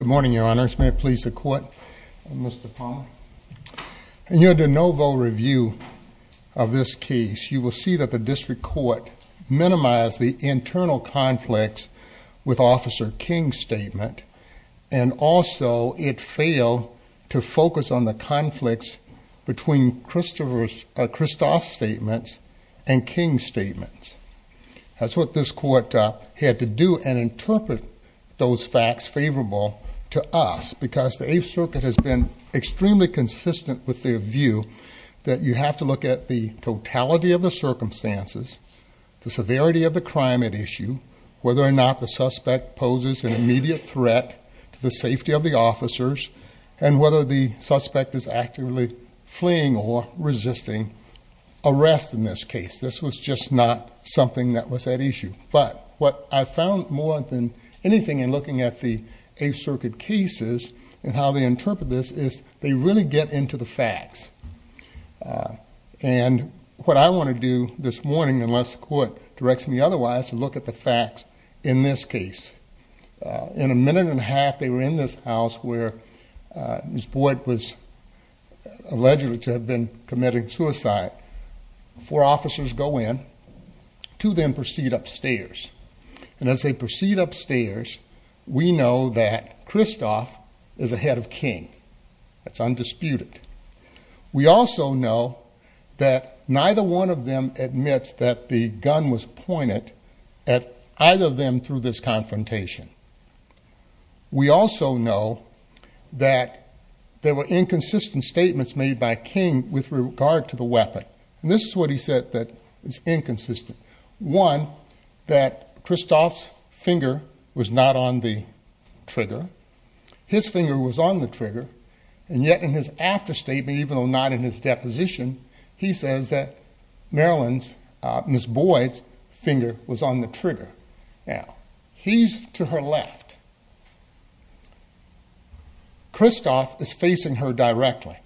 Good morning, your honors. May it please the court. Mr. Palmer. In your de novo review of this case, you will see that the district court minimized the internal conflicts with Officer King's statement, and also it failed to focus on the conflicts between Christophe's statements and King's statements. That's what this court had to do and interpret those facts favorable to us, because the Eighth Circuit has been extremely consistent with their view that you have to look at the totality of the circumstances, the severity of the crime at issue, whether or not the suspect poses an immediate threat to the safety of the officers, and whether the suspect is actively fleeing or resisting arrest in this case. This was just not something that was at issue. But what I found more than anything in looking at the Eighth Circuit cases and how they interpret this is they really get into the facts. And what I want to do this morning, unless the court directs me otherwise, to look at the facts in this case. In a minute and a half, they were in this house where Ms. Boyd was alleged to have been committing suicide. Four officers go in. Two of them proceed upstairs. And as they proceed upstairs, we know that Christophe is ahead of King. That's undisputed. We also know that neither one of them admits that the gun was pointed at either of them through this confrontation. We also know that there were inconsistent statements made by King with regard to the weapon. And this is what he said that is inconsistent. One, that Christophe's finger was not on the trigger. His finger was on the trigger. And yet in his after statement, even though not in his deposition, he says that Marilyn's, Ms. Boyd's, finger was on the trigger. Now, he's to her left. Christophe is facing her directly.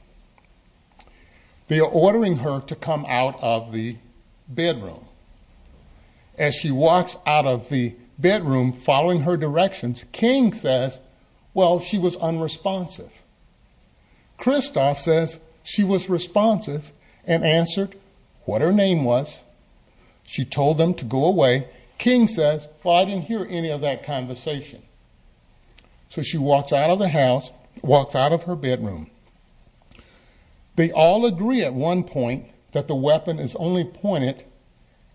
They are ordering her to come out of the bedroom. As she walks out of the bedroom, following her directions, King says, well, she was unresponsive. Christophe says she was responsive and answered what her name was. She told them to go away. King says, well, I didn't hear any of that conversation. So she walks out of the house, walks out of her bedroom. They all agree at one point that the weapon is only pointed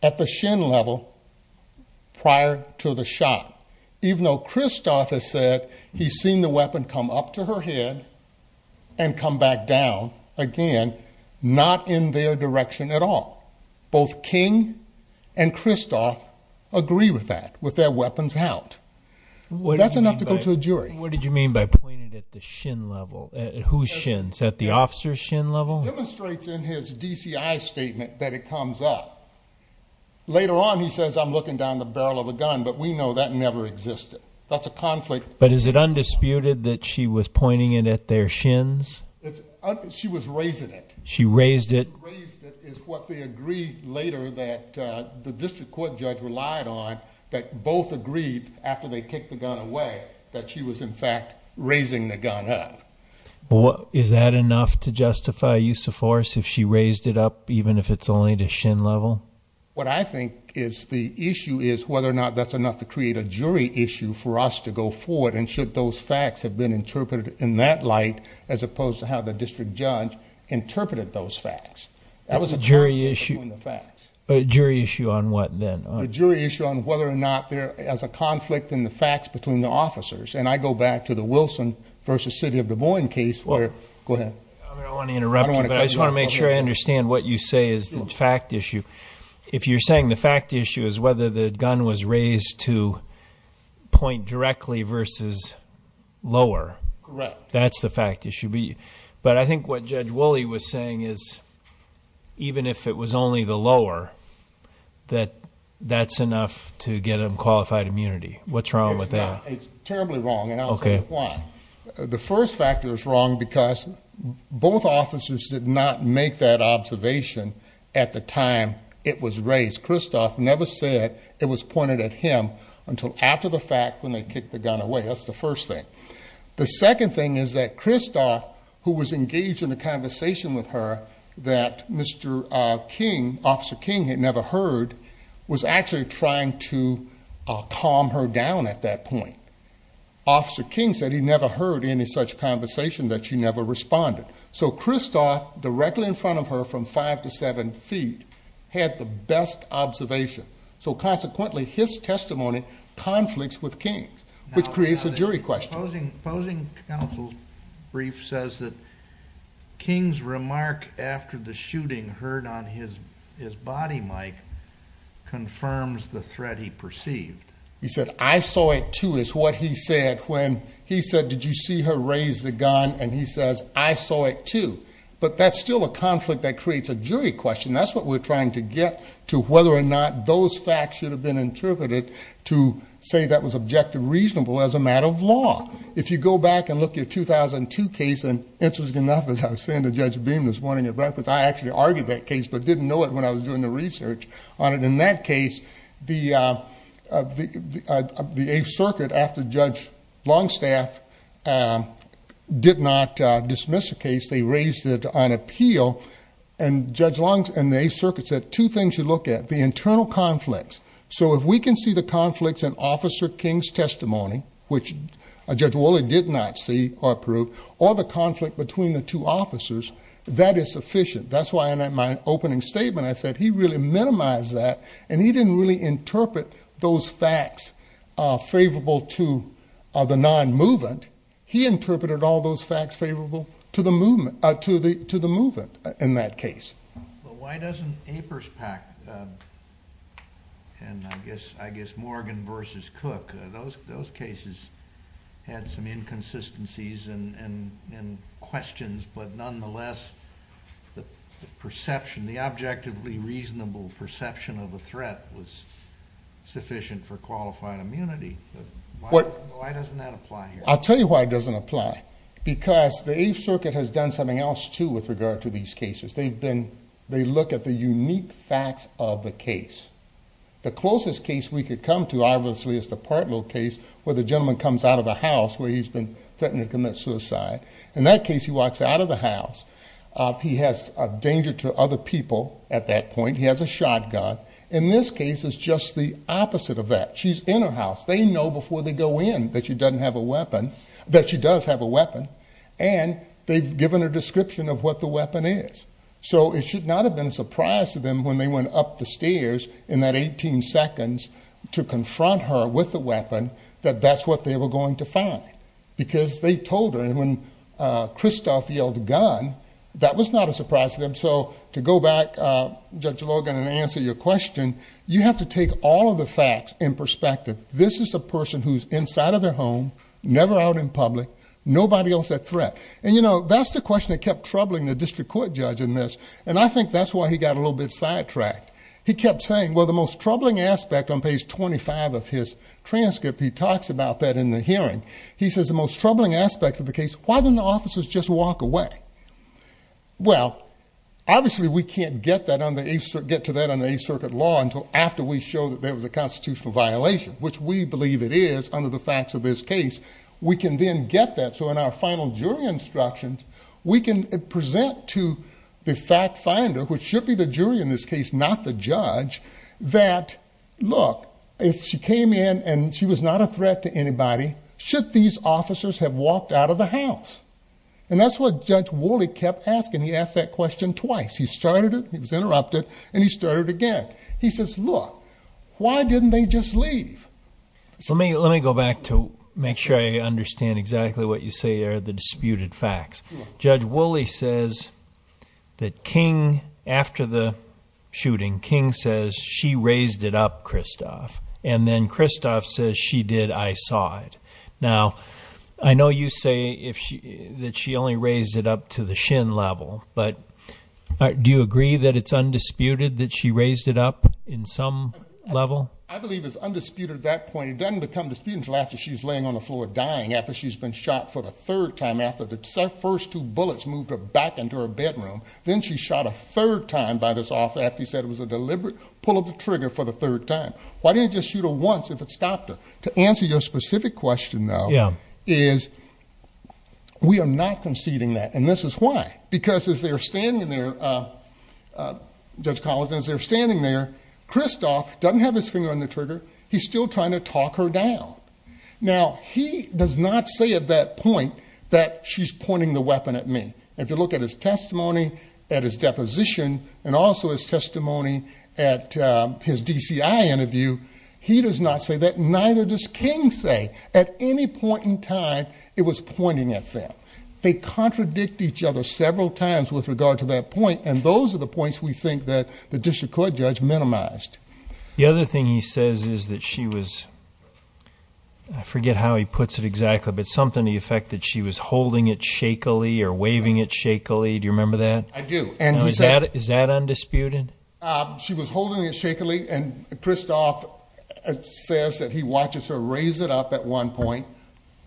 at the shin level prior to the shot. Even though Christophe has said he's seen the weapon come up to her head and come back down again, not in their direction at all. Both King and Christophe agree with that, with their weapons out. That's enough to go to a jury. What did you mean by pointed at the shin level? At whose shins? At the officer's shin level? Demonstrates in his DCI statement that it comes up. Later on, he says, I'm looking down the barrel of a gun, but we know that never existed. That's a conflict. But is it undisputed that she was pointing it at their shins? She was raising it. She raised it. Raised it is what they agreed later that the district court judge relied on, that both agreed after they kicked the gun away that she was in fact raising the gun up. Is that enough to justify use of force if she raised it up, even if it's only to shin level? What I think is the issue is whether or not that's enough to create a jury issue for us to go forward and should those facts have been interpreted in that light, as opposed to how the district judge interpreted those facts. That was a jury issue. A jury issue on what then? A jury issue on whether or not there is a conflict in the facts between the officers. And I go back to the Wilson v. City of Des Moines case. Go ahead. I don't want to interrupt you, but I just want to make sure I understand what you say is the fact issue. If you're saying the fact issue is whether the gun was raised to point directly versus lower. Correct. That's the fact issue. But I think what Judge Woolley was saying is even if it was only the lower, that that's enough to get them qualified immunity. What's wrong with that? It's terribly wrong. And I'll tell you why. The first factor is wrong because both officers did not make that observation at the time it was raised. Christoph never said it was pointed at him until after the fact when they kicked the gun away. That's the first thing. The second thing is that Christoph, who was engaged in a conversation with her that Mr. King, Officer King, had never heard, was actually trying to calm her down at that point. Officer King said he never heard any such conversation that she never responded. So Christoph, directly in front of her from five to seven feet, had the best observation. So consequently, his testimony conflicts with King's, which creates a jury question. Opposing counsel's brief says that King's remark after the shooting heard on his body, Mike, confirms the threat he perceived. He said, I saw it, too, is what he said when he said, did you see her raise the gun? And he says, I saw it, too. But that's still a conflict that creates a jury question. That's what we're trying to get to whether or not those facts should have been interpreted to say that was objective, reasonable as a matter of law. If you go back and look at your 2002 case, and interesting enough, as I was saying to Judge Beam this morning at breakfast, I actually argued that case but didn't know it when I was doing the research on it. In that case, the Eighth Circuit, after Judge Longstaff did not dismiss the case, they raised it on appeal. And Judge Longstaff and the Eighth Circuit said two things you look at, the internal conflicts. So if we can see the conflicts in Officer King's testimony, which Judge Woolley did not see or approve, or the conflict between the two officers, that is sufficient. That's why in my opening statement I said he really minimized that, and he didn't really interpret those facts favorable to the non-movement. He interpreted all those facts favorable to the movement in that case. Well, why doesn't Aperspack, and I guess Morgan v. Cook, those cases had some inconsistencies and questions, but nonetheless, the perception, the objectively reasonable perception of a threat was sufficient for qualified immunity. Why doesn't that apply here? I'll tell you why it doesn't apply. Because the Eighth Circuit has done something else, too, with regard to these cases. They look at the unique facts of the case. The closest case we could come to, obviously, is the Partlow case where the gentleman comes out of the house where he's been threatened to commit suicide. In that case, he walks out of the house. He has a danger to other people at that point. He has a shotgun. In this case, it's just the opposite of that. She's in her house. They know before they go in that she doesn't have a weapon, that she does have a weapon, and they've given her a description of what the weapon is. So it should not have been a surprise to them when they went up the stairs in that 18 seconds to confront her with the weapon that that's what they were going to find. Because they told her, and when Christophe yelled, gun, that was not a surprise to them. So to go back, Judge Logan, and answer your question, you have to take all of the facts in perspective. This is a person who's inside of their home, never out in public, nobody else at threat. And, you know, that's the question that kept troubling the district court judge in this, and I think that's why he got a little bit sidetracked. He kept saying, well, the most troubling aspect on page 25 of his transcript, he talks about that in the hearing. He says the most troubling aspect of the case, why didn't the officers just walk away? Well, obviously, we can't get to that on the Eighth Circuit law until after we show that there was a constitutional violation, which we believe it is under the facts of this case. We can then get that, so in our final jury instructions, we can present to the fact finder, which should be the jury in this case, not the judge, that, look, if she came in and she was not a threat to anybody, should these officers have walked out of the house? And that's what Judge Woolley kept asking. He asked that question twice. He started it, he was interrupted, and he started again. He says, look, why didn't they just leave? So let me go back to make sure I understand exactly what you say are the disputed facts. Judge Woolley says that King, after the shooting, King says, she raised it up, Kristoff. And then Kristoff says, she did, I saw it. Now, I know you say that she only raised it up to the shin level, but do you agree that it's undisputed that she raised it up in some level? I believe it's undisputed at that point. It doesn't become disputed until after she's laying on the floor dying, after she's been shot for the third time, after the first two bullets moved her back into her bedroom. Then she's shot a third time by this officer after he said it was a deliberate pull of the trigger for the third time. Why didn't he just shoot her once if it stopped her? To answer your specific question, though, is we are not conceding that, and this is why. Because as they're standing there, Judge Collins, as they're standing there, Kristoff doesn't have his finger on the trigger. He's still trying to talk her down. Now, he does not say at that point that she's pointing the weapon at me. If you look at his testimony, at his deposition, and also his testimony at his DCI interview, he does not say that, neither does King say at any point in time it was pointing at them. They contradict each other several times with regard to that point, and those are the points we think that the district court judge minimized. The other thing he says is that she was, I forget how he puts it exactly, but something to the effect that she was holding it shakily or waving it shakily. Do you remember that? I do. Is that undisputed? She was holding it shakily, and Kristoff says that he watches her raise it up at one point,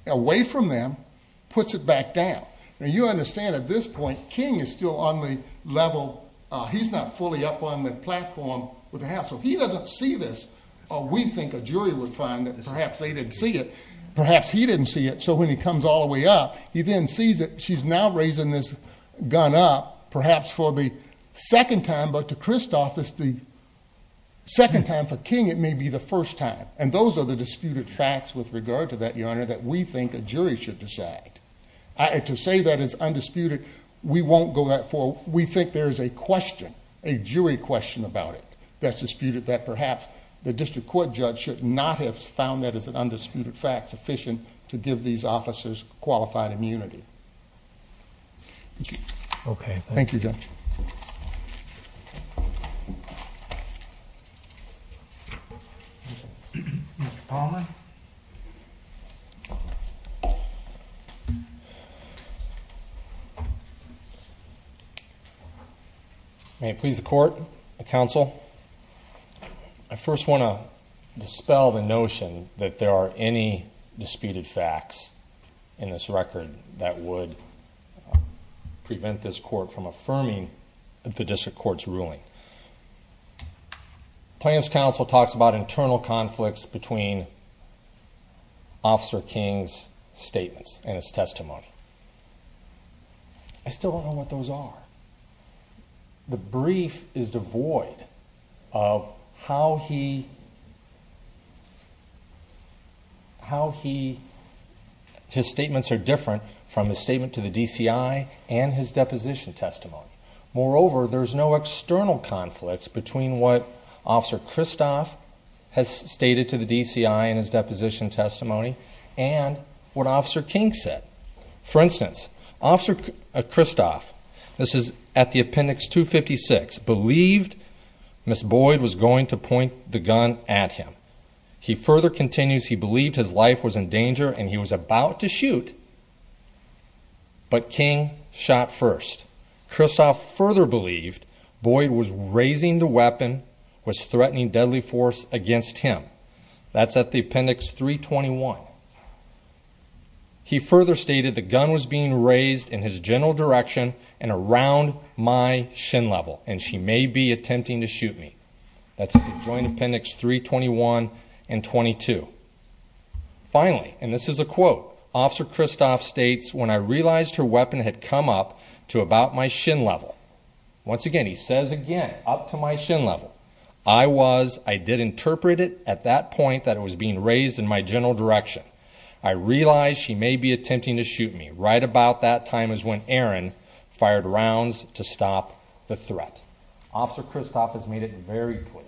away from them, puts it back down. Now, you understand at this point, King is still on the level, he's not fully up on the platform with the hassle. He doesn't see this, or we think a jury would find that perhaps they didn't see it. Perhaps he didn't see it, so when he comes all the way up, he then sees that she's now raising this gun up, perhaps for the second time, but to Kristoff, it's the second time. For King, it may be the first time. And those are the disputed facts with regard to that, Your Honor, that we think a jury should decide. To say that it's undisputed, we won't go that far. We think there is a question, a jury question about it that's disputed that perhaps the district court judge should not have found that as an undisputed fact sufficient to give these officers qualified immunity. Okay. Thank you, Judge. Mr. Palmer? May it please the court, the counsel? I first want to dispel the notion that there are any disputed facts in this record that would prevent this court from affirming the district court's ruling. Plaintiff's counsel talks about internal conflicts between Officer King's statements and his testimony. I still don't know what those are. The brief is devoid of how he, his statements are different from his statement to the DCI and his deposition testimony. Moreover, there's no external conflicts between what Officer Kristof has stated to the DCI in his deposition testimony and what Officer King said. For instance, Officer Kristof, this is at the appendix 256, believed Ms. Boyd was going to point the gun at him. He further continues he believed his life was in danger and he was about to shoot, but King shot first. Kristof further believed Boyd was raising the weapon, was threatening deadly force against him. That's at the appendix 321. He further stated the gun was being raised in his general direction and around my shin level and she may be attempting to shoot me. That's at the joint appendix 321 and 22. Finally, and this is a quote, Officer Kristof states, when I realized her weapon had come up to about my shin level. Once again, he says again, up to my shin level. I was, I did interpret it at that point that it was being raised in my general direction. I realized she may be attempting to shoot me. Right about that time is when Aaron fired rounds to stop the threat. Officer Kristof has made it very clear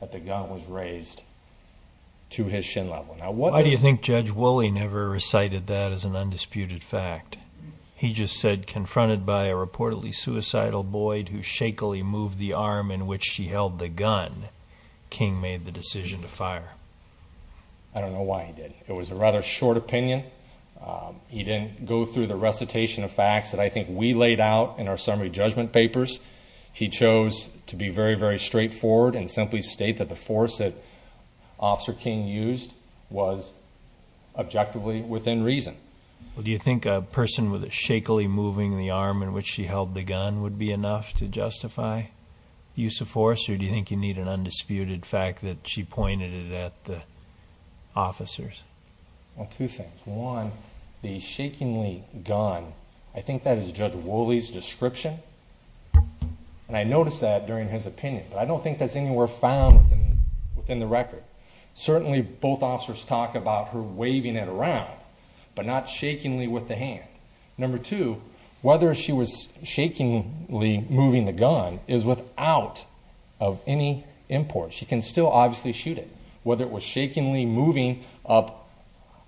that the gun was raised to his shin level. Why do you think Judge Woolley never recited that as an undisputed fact? He just said confronted by a reportedly suicidal Boyd who shakily moved the arm in which she held the gun, King made the decision to fire. I don't know why he did. It was a rather short opinion. He didn't go through the recitation of facts that I think we laid out in our summary judgment papers. He chose to be very, very straightforward and simply state that the force that Officer King used was objectively within reason. Do you think a person with a shakily moving the arm in which she held the gun would be enough to justify the use of force? Or do you think you need an undisputed fact that she pointed it at the officers? Well, two things. One, the shakily gun, I think that is Judge Woolley's description. And I noticed that during his opinion. But I don't think that's anywhere found within the record. Certainly both officers talk about her waving it around, but not shakily with the hand. Number two, whether she was shakily moving the gun is without any import. She can still obviously shoot it. Whether it was shakily moving up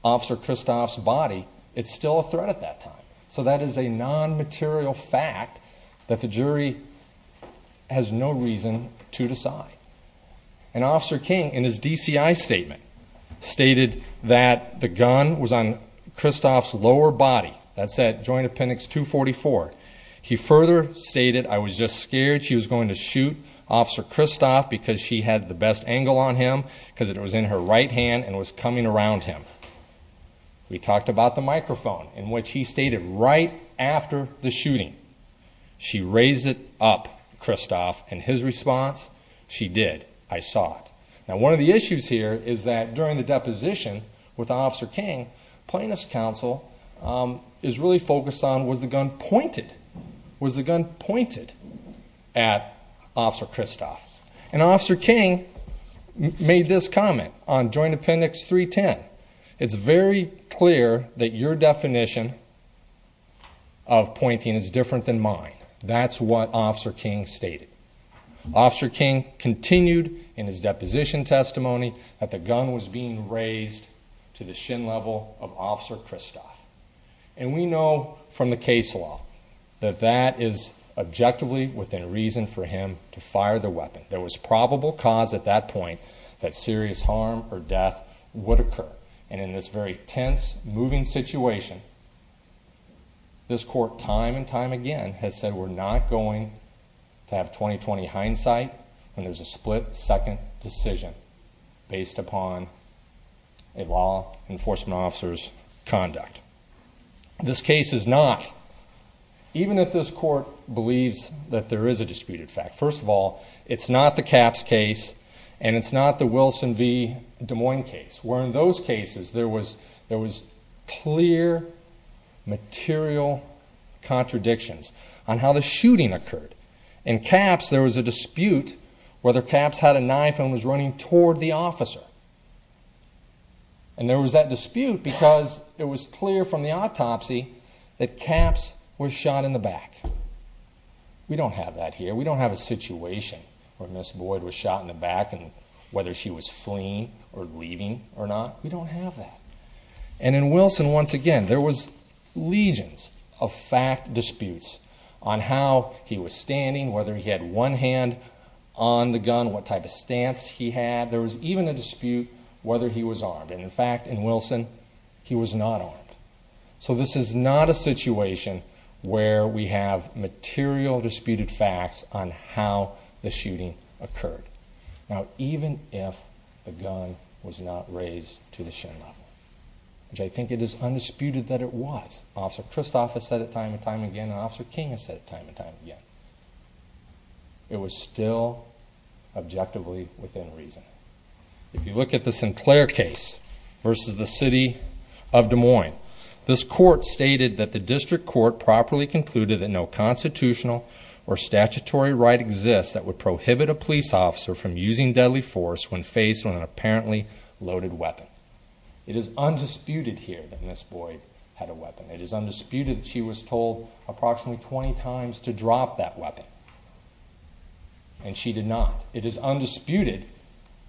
Officer Kristof's body, it's still a threat at that time. So that is a non-material fact that the jury has no reason to decide. And Officer King, in his DCI statement, stated that the gun was on Kristof's lower body. That's at Joint Appendix 244. He further stated, I was just scared she was going to shoot Officer Kristof because she had the best angle on him, because it was in her right hand and was coming around him. We talked about the microphone, in which he stated right after the shooting, she raised it up, Kristof, and his response, she did. I saw it. Now, one of the issues here is that during the deposition with Officer King, plaintiff's counsel is really focused on was the gun pointed? Was the gun pointed at Officer Kristof? And Officer King made this comment on Joint Appendix 310. It's very clear that your definition of pointing is different than mine. That's what Officer King stated. Officer King continued in his deposition testimony that the gun was being raised to the shin level of Officer Kristof. And we know from the case law that that is objectively within reason for him to fire the weapon. There was probable cause at that point that serious harm or death would occur. And in this very tense, moving situation, this court time and time again has said we're not going to have 20-20 hindsight when there's a split-second decision based upon a law enforcement officer's conduct. This case is not, even if this court believes that there is a disputed fact. First of all, it's not the Caps case, and it's not the Wilson v. Des Moines case, where in those cases there was clear material contradictions on how the shooting occurred. In Caps, there was a dispute whether Caps had a knife and was running toward the officer. And there was that dispute because it was clear from the autopsy that Caps was shot in the back. We don't have that here. We don't have a situation where Ms. Boyd was shot in the back and whether she was fleeing or leaving or not. We don't have that. And in Wilson, once again, there was legions of fact disputes on how he was standing, whether he had one hand on the gun, what type of stance he had. There was even a dispute whether he was armed. And in fact, in Wilson, he was not armed. So this is not a situation where we have material disputed facts on how the shooting occurred. Now, even if the gun was not raised to the shin level, which I think it is undisputed that it was, Officer Kristoff has said it time and time again, and Officer King has said it time and time again, it was still objectively within reason. If you look at the Sinclair case versus the City of Des Moines, this court stated that the district court properly concluded that no constitutional or statutory right exists that would prohibit a police officer from using deadly force when faced with an apparently loaded weapon. It is undisputed here that Ms. Boyd had a weapon. It is undisputed that she was told approximately 20 times to drop that weapon, and she did not. It is undisputed,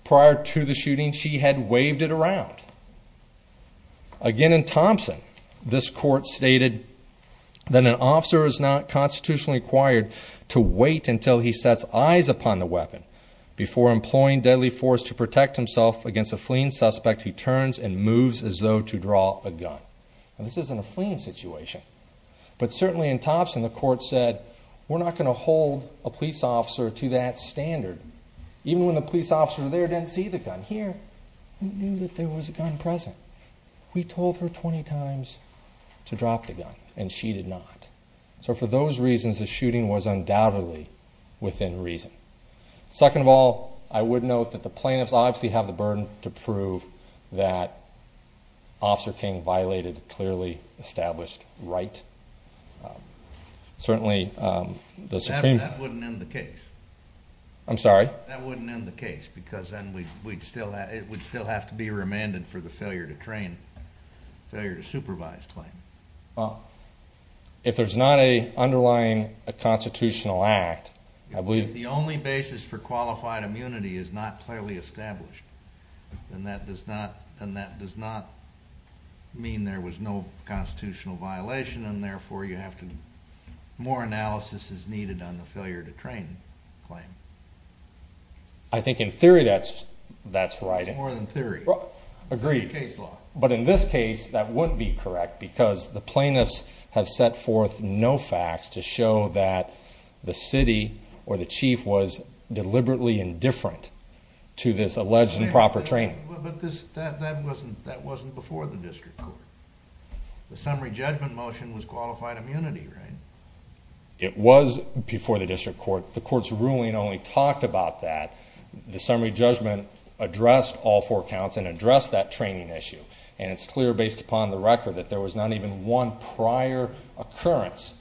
prior to the shooting, she had waved it around. Again, in Thompson, this court stated that an officer is not constitutionally required to wait until he sets eyes upon the weapon before employing deadly force to protect himself against a fleeing suspect who turns and moves as though to draw a gun. Now, this isn't a fleeing situation, but certainly in Thompson, the court said, we're not going to hold a police officer to that standard, but here, we knew that there was a gun present. We told her 20 times to drop the gun, and she did not. So for those reasons, the shooting was undoubtedly within reason. Second of all, I would note that the plaintiffs obviously have the burden to prove that Officer King violated a clearly established right. Certainly, the Supreme Court... That wouldn't end the case. I'm sorry? That wouldn't end the case because then it would still have to be remanded for the failure to train, failure to supervise claim. Well, if there's not an underlying constitutional act, I believe... If the only basis for qualified immunity is not clearly established, then that does not mean there was no constitutional violation, and therefore, more analysis is needed on the failure to train claim. I think in theory, that's right. It's more than theory. Agreed. Case law. But in this case, that wouldn't be correct because the plaintiffs have set forth no facts to show that the city or the chief was deliberately indifferent to this alleged improper training. But that wasn't before the district court. The summary judgment motion was qualified immunity, right? It was before the district court. The court's ruling only talked about that. The summary judgment addressed all four counts and addressed that training issue, and it's clear based upon the record that there was not even one prior occurrence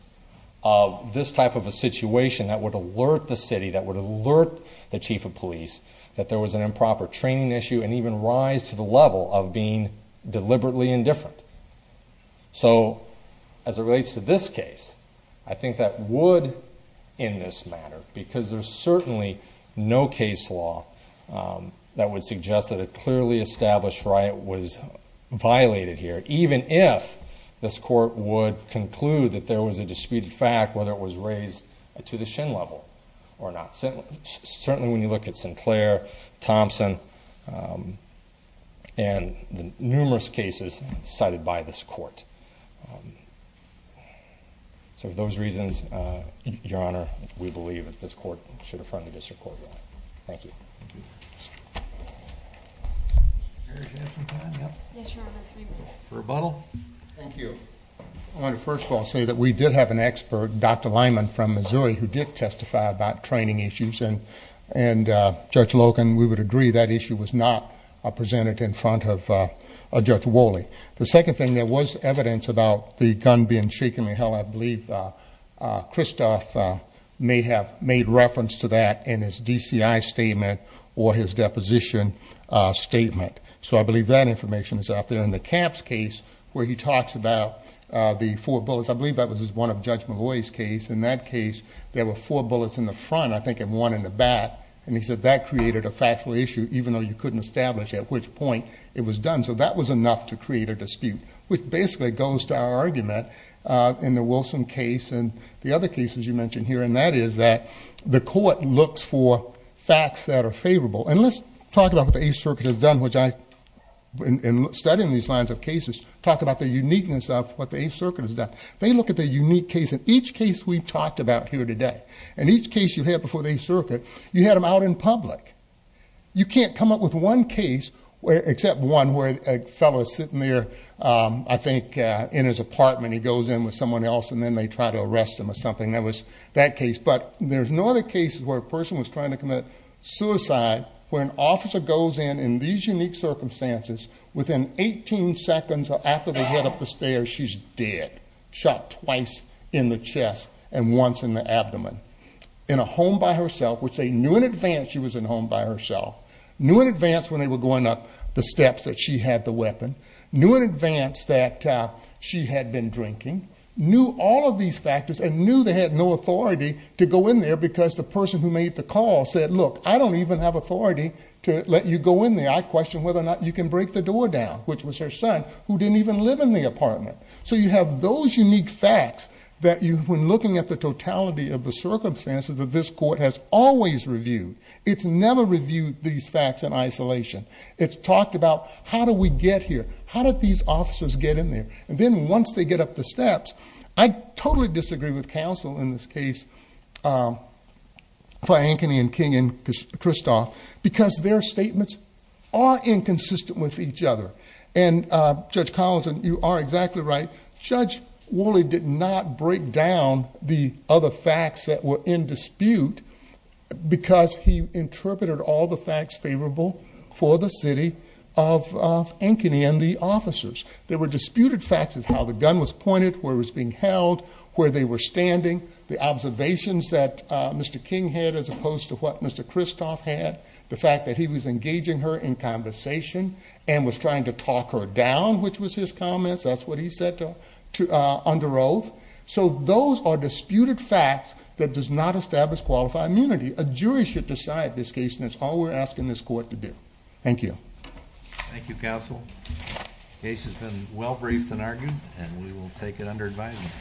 of this type of a situation that would alert the city, that would alert the chief of police, that there was an improper training issue and even rise to the level of being deliberately indifferent. So as it relates to this case, I think that would, in this matter, because there's certainly no case law that would suggest that a clearly established right was violated here, even if this court would conclude that there was a disputed fact, whether it was raised to the shin level or not. Certainly when you look at Sinclair, Thompson, and the numerous cases cited by this court. So for those reasons, Your Honor, we believe that this court should affirm the district court ruling. Thank you. For rebuttal? Thank you. I want to first of all say that we did have an expert, Dr. Lyman from Missouri, who did testify about training issues. And Judge Logan, we would agree that issue was not presented in front of Judge Woley. The second thing, there was evidence about the gun being shaken. I believe Christoph may have made reference to that in his DCI statement or his deposition statement. So I believe that information is out there. In the Camps case, where he talks about the four bullets, I believe that was one of Judge McGaughy's case. In that case, there were four bullets in the front, I think, and one in the back. And he said that created a factual issue, even though you couldn't establish at which point it was done. So that was enough to create a dispute, which basically goes to our argument in the Wilson case and the other cases you mentioned here. And that is that the court looks for facts that are favorable. And let's talk about what the Eighth Circuit has done, which I, in studying these lines of cases, talk about the uniqueness of what the Eighth Circuit has done. They look at the unique case. In each case we've talked about here today, in each case you've had before the Eighth Circuit, you had them out in public. You can't come up with one case, except one where a fellow is sitting there, I think, in his apartment. He goes in with someone else, and then they try to arrest him or something. That was that case. But there's no other case where a person was trying to commit suicide where an officer goes in, in these unique circumstances, within 18 seconds after they head up the stairs, she's dead. Shot twice in the chest and once in the abdomen. In a home by herself, which they knew in advance she was in a home by herself, knew in advance when they were going up the steps that she had the weapon, knew in advance that she had been drinking, knew all of these factors and knew they had no authority to go in there because the person who made the call said, look, I don't even have authority to let you go in there. I question whether or not you can break the door down, which was her son, who didn't even live in the apartment. So you have those unique facts that when looking at the totality of the circumstances that this court has always reviewed, it's never reviewed these facts in isolation. It's talked about, how do we get here? How did these officers get in there? And then once they get up the steps, I totally disagree with counsel in this case, for Ankeny and King and Kristoff, because their statements are inconsistent with each other. And Judge Collinson, you are exactly right. Judge Woolley did not break down the other facts that were in dispute because he interpreted all the facts favorable for the city of Ankeny and the officers. There were disputed facts as how the gun was pointed, where it was being held, where they were standing, the observations that Mr. King had as opposed to what Mr. Kristoff had, the fact that he was engaging her in conversation and was trying to talk her down, which was his comments. That's what he said under oath. So those are disputed facts that does not establish qualified immunity. A jury should decide this case, and that's all we're asking this court to do. Thank you. Thank you, counsel. The case has been well briefed and argued, and we will take it under advisement.